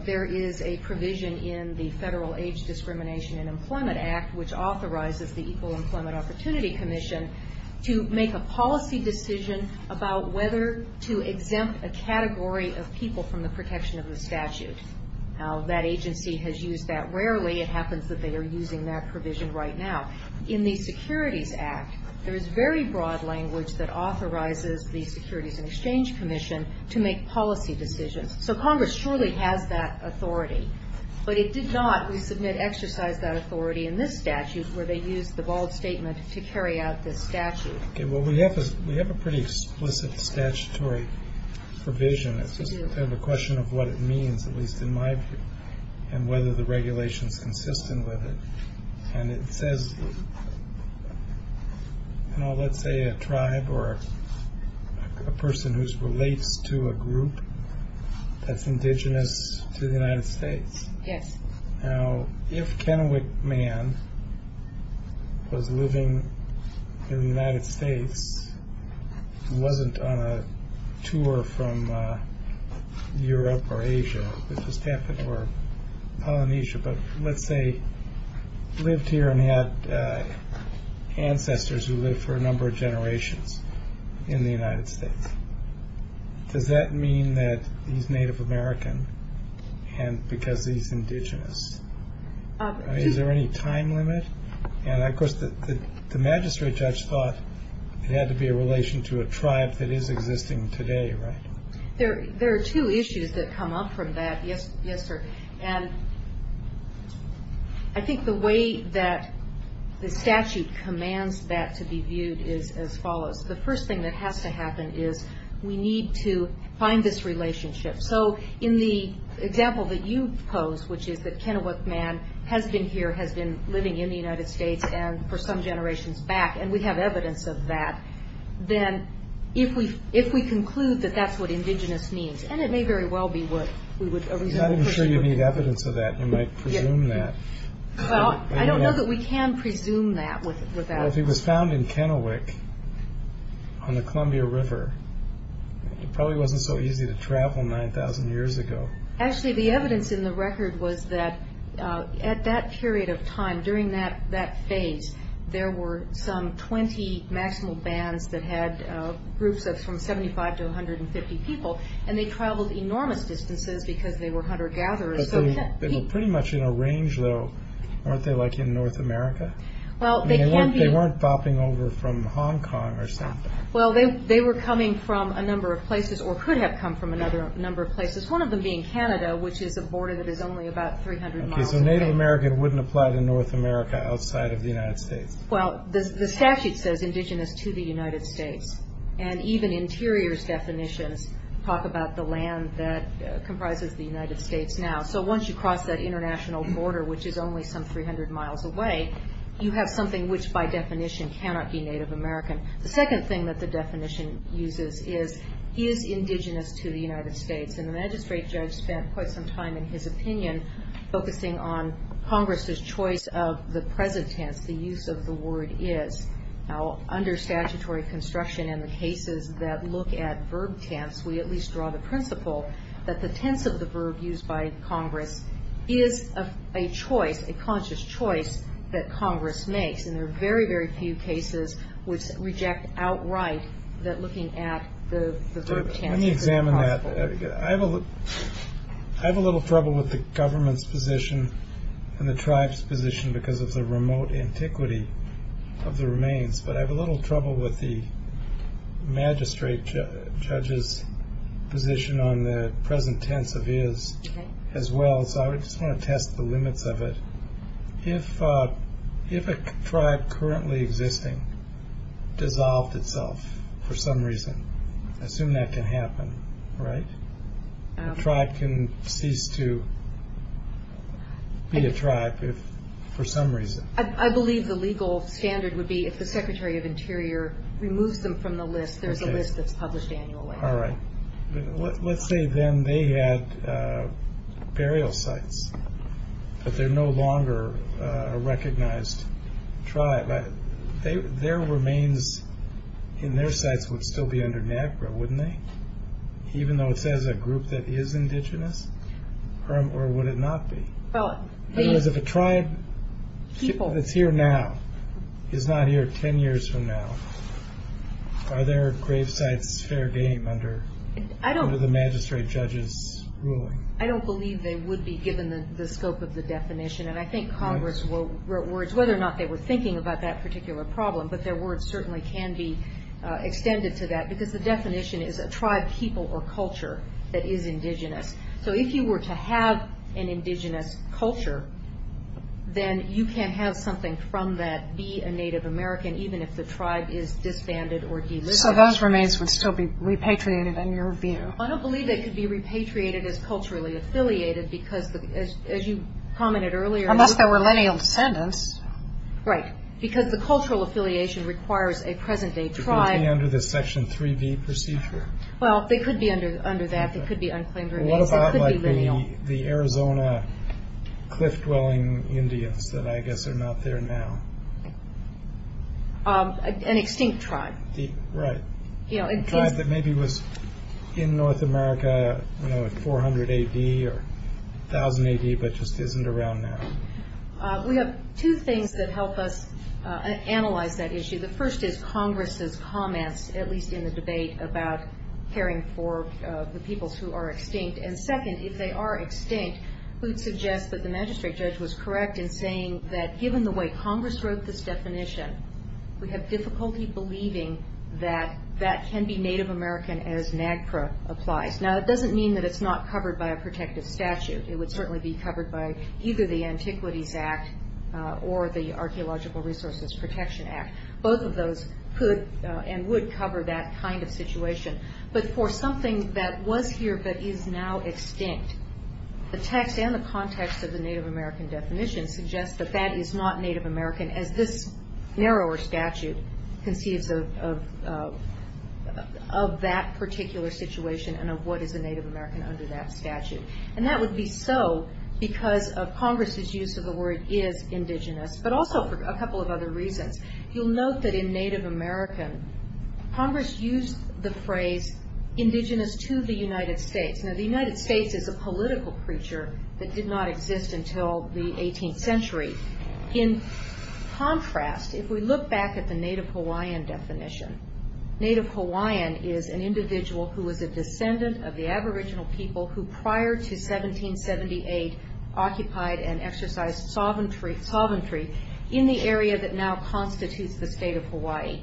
there is a provision in the Federal Age Discrimination and Employment Act, which authorizes the Equal Employment Opportunity Commission to make a policy decision about whether to exempt a category of people from the protection of the statute. Now, that agency has used that rarely. It happens that they are using that provision right now. In the Securities Act, there is very broad language that authorizes the Securities and Exchange Commission to make policy decisions. So Congress surely has that authority, but it did not, we submit, exercise that authority in this statute where they used the bald statement to carry out this statute. Okay. Well, we have a pretty explicit statutory provision. It's just kind of a question of what it means, at least in my view, and whether the regulation is consistent with it. And it says, you know, let's say a tribe or a person who relates to a group that's indigenous to the United States. Yes. Now, if Kennewick Man was living in the United States and wasn't on a tour from Europe or Asia, or Polynesia, but let's say lived here and had ancestors who lived for a number of generations in the United States, does that mean that he's Native American because he's indigenous? Is there any time limit? And, of course, the magistrate judge thought it had to be a relation to a tribe that is existing today, right? There are two issues that come up from that, yes, sir. And I think the way that the statute commands that to be viewed is as follows. The first thing that has to happen is we need to find this relationship. So in the example that you pose, which is that Kennewick Man has been here, has been living in the United States and for some generations back, and we have evidence of that, then if we conclude that that's what indigenous means, and it may very well be a reasonable presumption. I'm not sure you need evidence of that. You might presume that. Well, I don't know that we can presume that. Well, if he was found in Kennewick on the Columbia River, it probably wasn't so easy to travel 9,000 years ago. Actually, the evidence in the record was that at that period of time, during that phase, there were some 20 national bands that had groups of from 75 to 150 people, and they traveled enormous distances because they were hunter-gatherers. But they were pretty much in a range, though. Weren't they like in North America? Well, they can be. They weren't bopping over from Hong Kong or something. Well, they were coming from a number of places or could have come from another number of places, one of them being Canada, which is a border that is only about 300 miles away. Okay, so Native American wouldn't apply to North America outside of the United States. Well, the statute says indigenous to the United States, and even interiors definitions talk about the land that comprises the United States now. So once you cross that international border, which is only some 300 miles away, you have something which by definition cannot be Native American. The second thing that the definition uses is he is indigenous to the United States, and the magistrate judge spent quite some time in his opinion focusing on Congress's choice of the present tense, the use of the word is. Now, under statutory construction in the cases that look at verb tense, we at least draw the principle that the tense of the verb used by Congress is a choice, a conscious choice that Congress makes, and there are very, very few cases which reject outright that looking at the verb tense is possible. Let me examine that. I have a little trouble with the government's position and the tribe's position because of the remote antiquity of the remains, but I have a little trouble with the magistrate judge's position on the present tense of is as well, so I just want to test the limits of it. If a tribe currently existing dissolved itself for some reason, assume that can happen, right? A tribe can cease to be a tribe for some reason. I believe the legal standard would be if the Secretary of Interior removes them from the list, there's a list that's published annually. All right. Let's say then they had burial sites, but they're no longer a recognized tribe. Their remains in their sites would still be under NAGPRA, wouldn't they? Even though it says a group that is indigenous, or would it not be? In other words, if a tribe that's here now is not here ten years from now, are their grave sites fair game under the magistrate judge's ruling? I don't believe they would be given the scope of the definition, and I think Congress wrote words whether or not they were thinking about that particular problem, but their words certainly can be extended to that because the definition is a tribe, people, or culture that is indigenous. So if you were to have an indigenous culture, then you can have something from that be a Native American even if the tribe is disbanded or delisted. So those remains would still be repatriated in your view? I don't believe they could be repatriated as culturally affiliated because, as you commented earlier. Unless they were lineal descendants. Right. Because the cultural affiliation requires a present-day tribe. They could be under the Section 3B procedure. Well, they could be under that. They could be unclaimed remains. They could be lineal. What about the Arizona cliff-dwelling Indians that I guess are not there now? An extinct tribe. Right. A tribe that maybe was in North America in 400 A.D. or 1,000 A.D. but just isn't around now. We have two things that help us analyze that issue. The first is Congress's comments, at least in the debate, about caring for the peoples who are extinct. And second, if they are extinct, we'd suggest that the magistrate judge was correct in saying that given the way Congress wrote this definition, we have difficulty believing that that can be Native American as NAGPRA applies. Now, that doesn't mean that it's not covered by a protective statute. It would certainly be covered by either the Antiquities Act or the Archaeological Resources Protection Act. Both of those could and would cover that kind of situation. But for something that was here but is now extinct, the text and the context of the Native American definition suggests that that is not Native American as this narrower statute conceives of that particular situation and of what is a Native American under that statute. And that would be so because of Congress's use of the word is indigenous, but also for a couple of other reasons. You'll note that in Native American, Congress used the phrase indigenous to the United States. Now, the United States is a political creature that did not exist until the 18th century. In contrast, if we look back at the Native Hawaiian definition, Native Hawaiian is an individual who is a descendant of the aboriginal people who prior to 1778 occupied and exercised sovereignty in the area that now constitutes the state of Hawaii.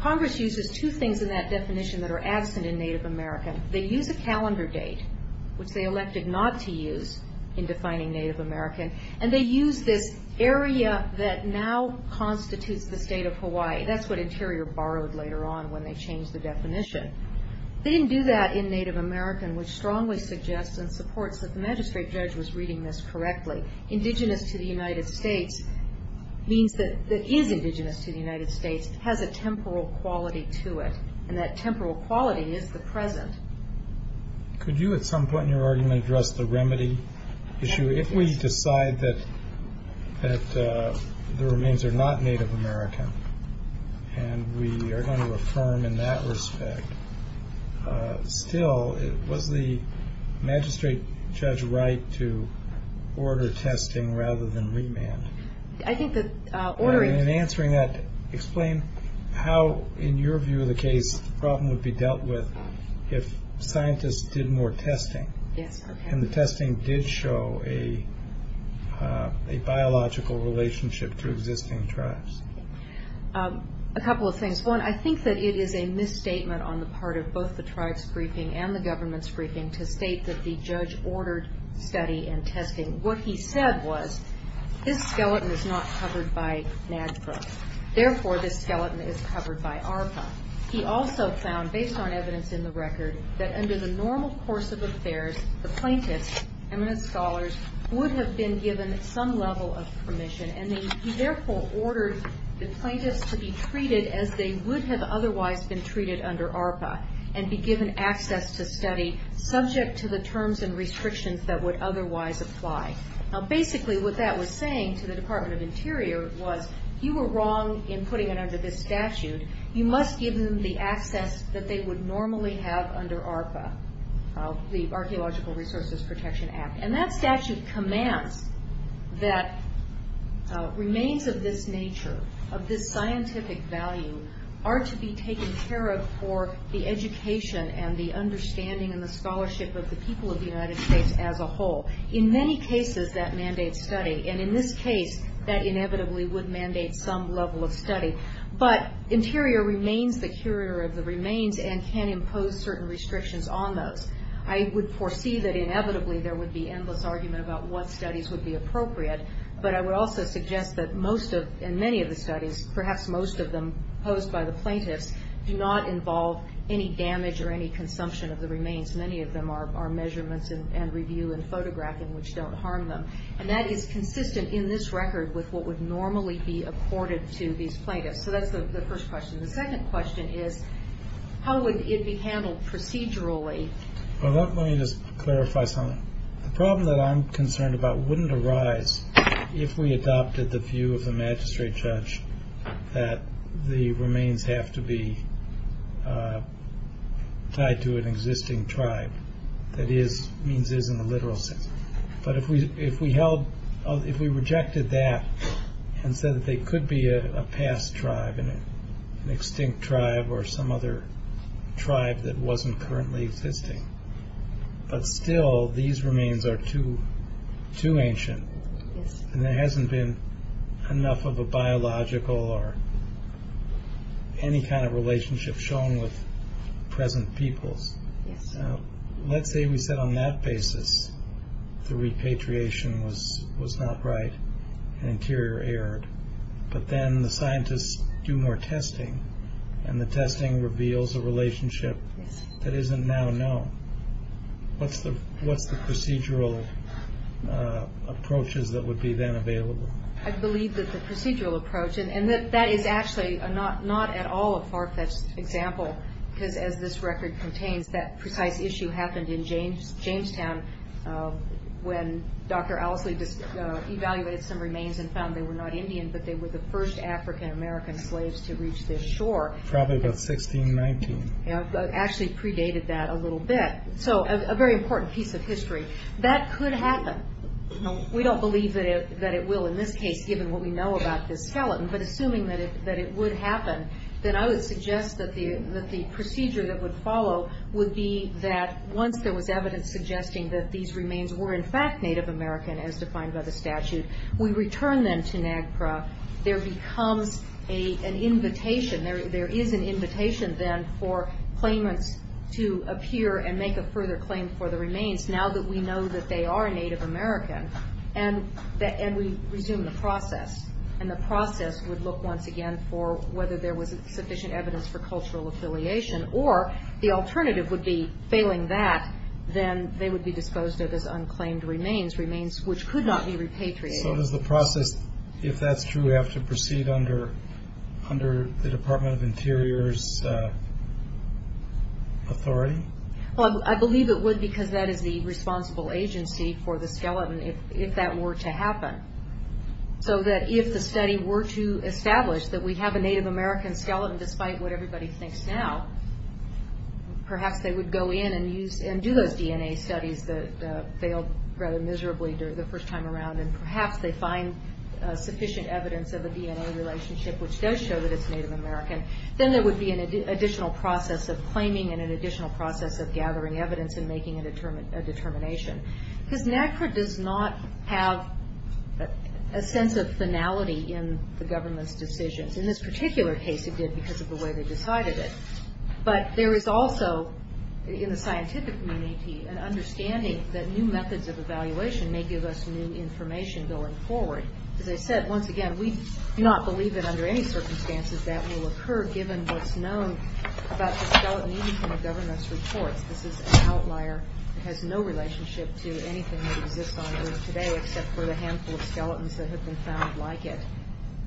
Congress uses two things in that definition that are absent in Native American. They use a calendar date, which they elected not to use in defining Native American, and they use this area that now constitutes the state of Hawaii. That's what Interior borrowed later on when they changed the definition. They didn't do that in Native American, which strongly suggests and supports that the magistrate judge was reading this correctly. Indigenous to the United States means that it is indigenous to the United States. It has a temporal quality to it, and that temporal quality is the present. Could you at some point in your argument address the remedy issue? If we decide that the remains are not Native American and we are going to affirm in that respect, still was the magistrate judge right to order testing rather than remand? In answering that, explain how, in your view of the case, the problem would be dealt with if scientists did more testing and the testing did show a biological relationship to existing tribes. A couple of things. One, I think that it is a misstatement on the part of both the tribes' briefing and the government's briefing to state that the judge ordered study and testing. What he said was, this skeleton is not covered by NAGPRA. Therefore, this skeleton is covered by ARPA. He also found, based on evidence in the record, that under the normal course of affairs, the plaintiffs, eminent scholars, would have been given some level of permission, and he therefore ordered the plaintiffs to be treated as they would have otherwise been treated under ARPA and be given access to study subject to the terms and restrictions that would otherwise apply. Basically, what that was saying to the Department of Interior was, you were wrong in putting it under this statute. You must give them the access that they would normally have under ARPA, the Archaeological Resources Protection Act. That statute commands that remains of this nature, of this scientific value, are to be taken care of for the education and the understanding and the scholarship of the people of the United States as a whole. In many cases, that mandates study. In this case, that inevitably would mandate some level of study. But Interior remains the curator of the remains and can impose certain restrictions on those. I would foresee that inevitably there would be endless argument about what studies would be appropriate, but I would also suggest that most of and many of the studies, perhaps most of them posed by the plaintiffs, do not involve any damage or any consumption of the remains. Many of them are measurements and review and photographing, which don't harm them. And that is consistent in this record with what would normally be accorded to these plaintiffs. So that's the first question. The second question is how would it be handled procedurally? Well, let me just clarify something. The problem that I'm concerned about wouldn't arise if we adopted the view of the magistrate judge that the remains have to be tied to an existing tribe. That is, means is in the literal sense. But if we held, if we rejected that and said that they could be a past tribe, an extinct tribe or some other tribe that wasn't currently existing, but still these remains are too ancient and there hasn't been enough of a biological or any kind of relationship shown with present peoples. Let's say we said on that basis the repatriation was not right, an interior error, but then the scientists do more testing and the testing reveals a relationship that isn't now known. What's the procedural approaches that would be then available? I believe that the procedural approach, and that is actually not at all a far-fetched example because as this record contains, that precise issue happened in Jamestown when Dr. Owsley evaluated some remains and found they were not Indian, but they were the first African-American slaves to reach this shore. Probably about 1619. Actually predated that a little bit. So a very important piece of history. That could happen. We don't believe that it will in this case given what we know about this skeleton, but assuming that it would happen, then I would suggest that the procedure that would follow would be that once there was evidence suggesting that these remains were in fact Native American as defined by the statute, we return them to NAGPRA. There becomes an invitation, there is an invitation then for claimants to appear and make a further claim for the remains now that we know that they are Native American, and we resume the process. And the process would look once again for whether there was sufficient evidence for cultural affiliation or the alternative would be failing that, then they would be disposed of as unclaimed remains, remains which could not be repatriated. So does the process, if that's true, have to proceed under the Department of Interior's authority? Well, I believe it would because that is the responsible agency for the skeleton if that were to happen. So that if the study were to establish that we have a Native American skeleton despite what everybody thinks now, perhaps they would go in and do those DNA studies that failed rather miserably the first time around and perhaps they find sufficient evidence of a DNA relationship which does show that it's Native American. Then there would be an additional process of claiming and an additional process of gathering evidence and making a determination. Because NAGPRA does not have a sense of finality in the government's decisions. In this particular case it did because of the way they decided it. But there is also, in the scientific community, an understanding that new methods of evaluation may give us new information going forward. As I said, once again, we do not believe that under any circumstances that will occur given what's known about the skeleton even from the government's reports. This is an outlier. It has no relationship to anything that exists on Earth today except for the handful of skeletons that have been found like it.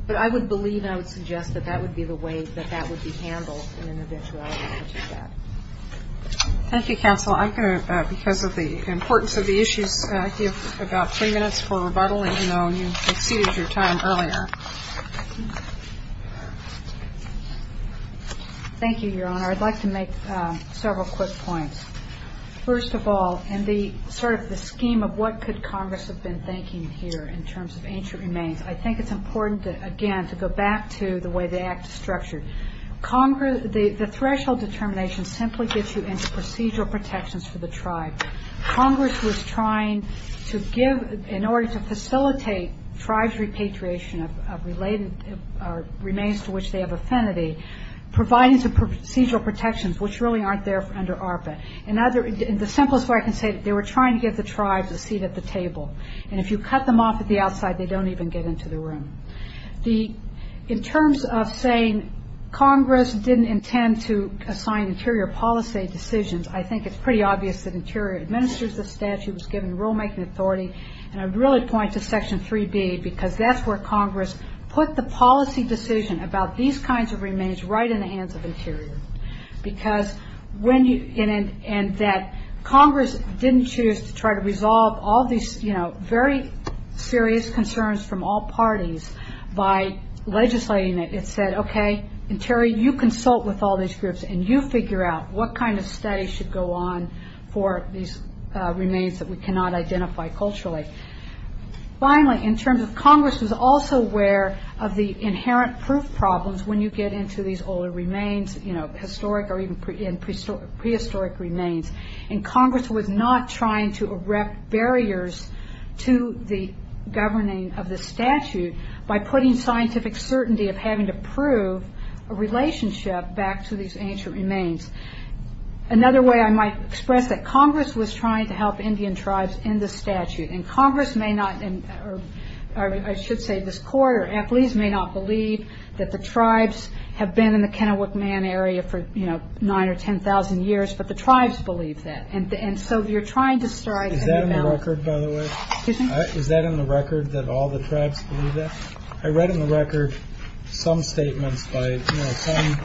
But I would believe and I would suggest that that would be the way that that would be handled in an eventuality such as that. Thank you, Counsel. I'm going to, because of the importance of the issues, give about three minutes for rebuttal even though you exceeded your time earlier. Thank you, Your Honor. I'd like to make several quick points. First of all, in sort of the scheme of what could Congress have been thinking here in terms of ancient remains, I think it's important, again, to go back to the way the act is structured. The threshold determination simply gets you into procedural protections for the tribe. Congress was trying to give, in order to facilitate tribes' repatriation of remains to which they have affinity, providing some procedural protections which really aren't there under ARPA. And the simplest way I can say it, they were trying to give the tribes a seat at the table. And if you cut them off at the outside, they don't even get into the room. In terms of saying Congress didn't intend to assign interior policy decisions, I think it's pretty obvious that interior administers the statute, was given rulemaking authority. And I'd really point to Section 3B because that's where Congress put the policy decision about these kinds of remains right in the hands of Interior. Because when you... And that Congress didn't choose to try to resolve all these very serious concerns from all parties by legislating it. It said, OK, Interior, you consult with all these groups and you figure out what kind of study should go on for these remains that we cannot identify culturally. Finally, in terms of Congress was also aware of the inherent proof problems when you get into these older remains, historic or even prehistoric remains. And Congress was not trying to erect barriers to the governing of the statute by putting scientific certainty of having to prove a relationship back to these ancient remains. Another way I might express that, Congress was trying to help Indian tribes in the statute. And Congress may not... I should say this court or athletes may not believe that the tribes have been in the Kennewick Man area for 9,000 or 10,000 years, but the tribes believe that. And so you're trying to start... Is that in the record, by the way? Is that in the record that all the tribes believe that? I read in the record some statements by some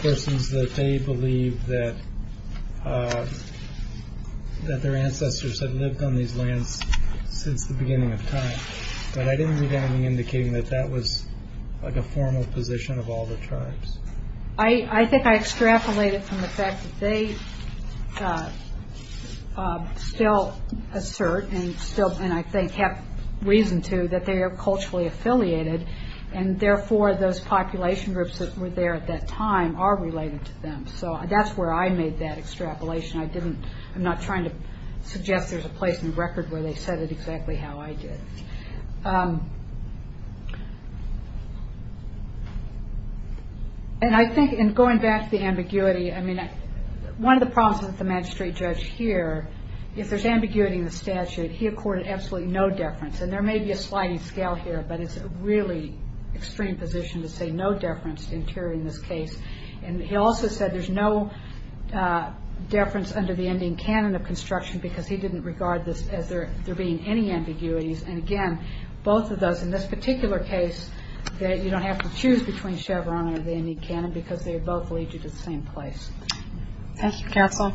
persons that they believe that their ancestors had lived on these lands since the beginning of time. But I didn't read anything indicating that that was a formal position of all the tribes. I think I extrapolated from the fact that they still assert and still, and I think have reason to, that they are culturally affiliated and therefore those population groups that were there at that time are related to them. So that's where I made that extrapolation. I'm not trying to suggest there's a place in the record where they said it exactly how I did. And I think in going back to the ambiguity, one of the problems with the magistrate judge here, if there's ambiguity in the statute, he accorded absolutely no deference. And there may be a sliding scale here, but it's a really extreme position to say no deference to interior in this case. And he also said there's no deference under the Indian canon of construction because he didn't regard this as there being any ambiguities. And again, both of those in this particular case, you don't have to choose between Chevron or the Indian canon because they both lead you to the same place. Thank you, counsel.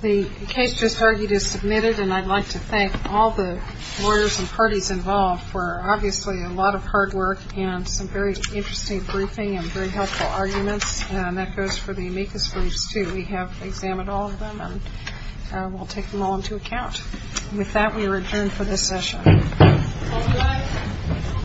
The case just argued is submitted, and I'd like to thank all the lawyers and parties involved for obviously a lot of hard work and some very interesting briefing and very helpful arguments. And that goes for the amicus briefs, too. We have examined all of them, and we'll take them all into account. With that, we return for this session.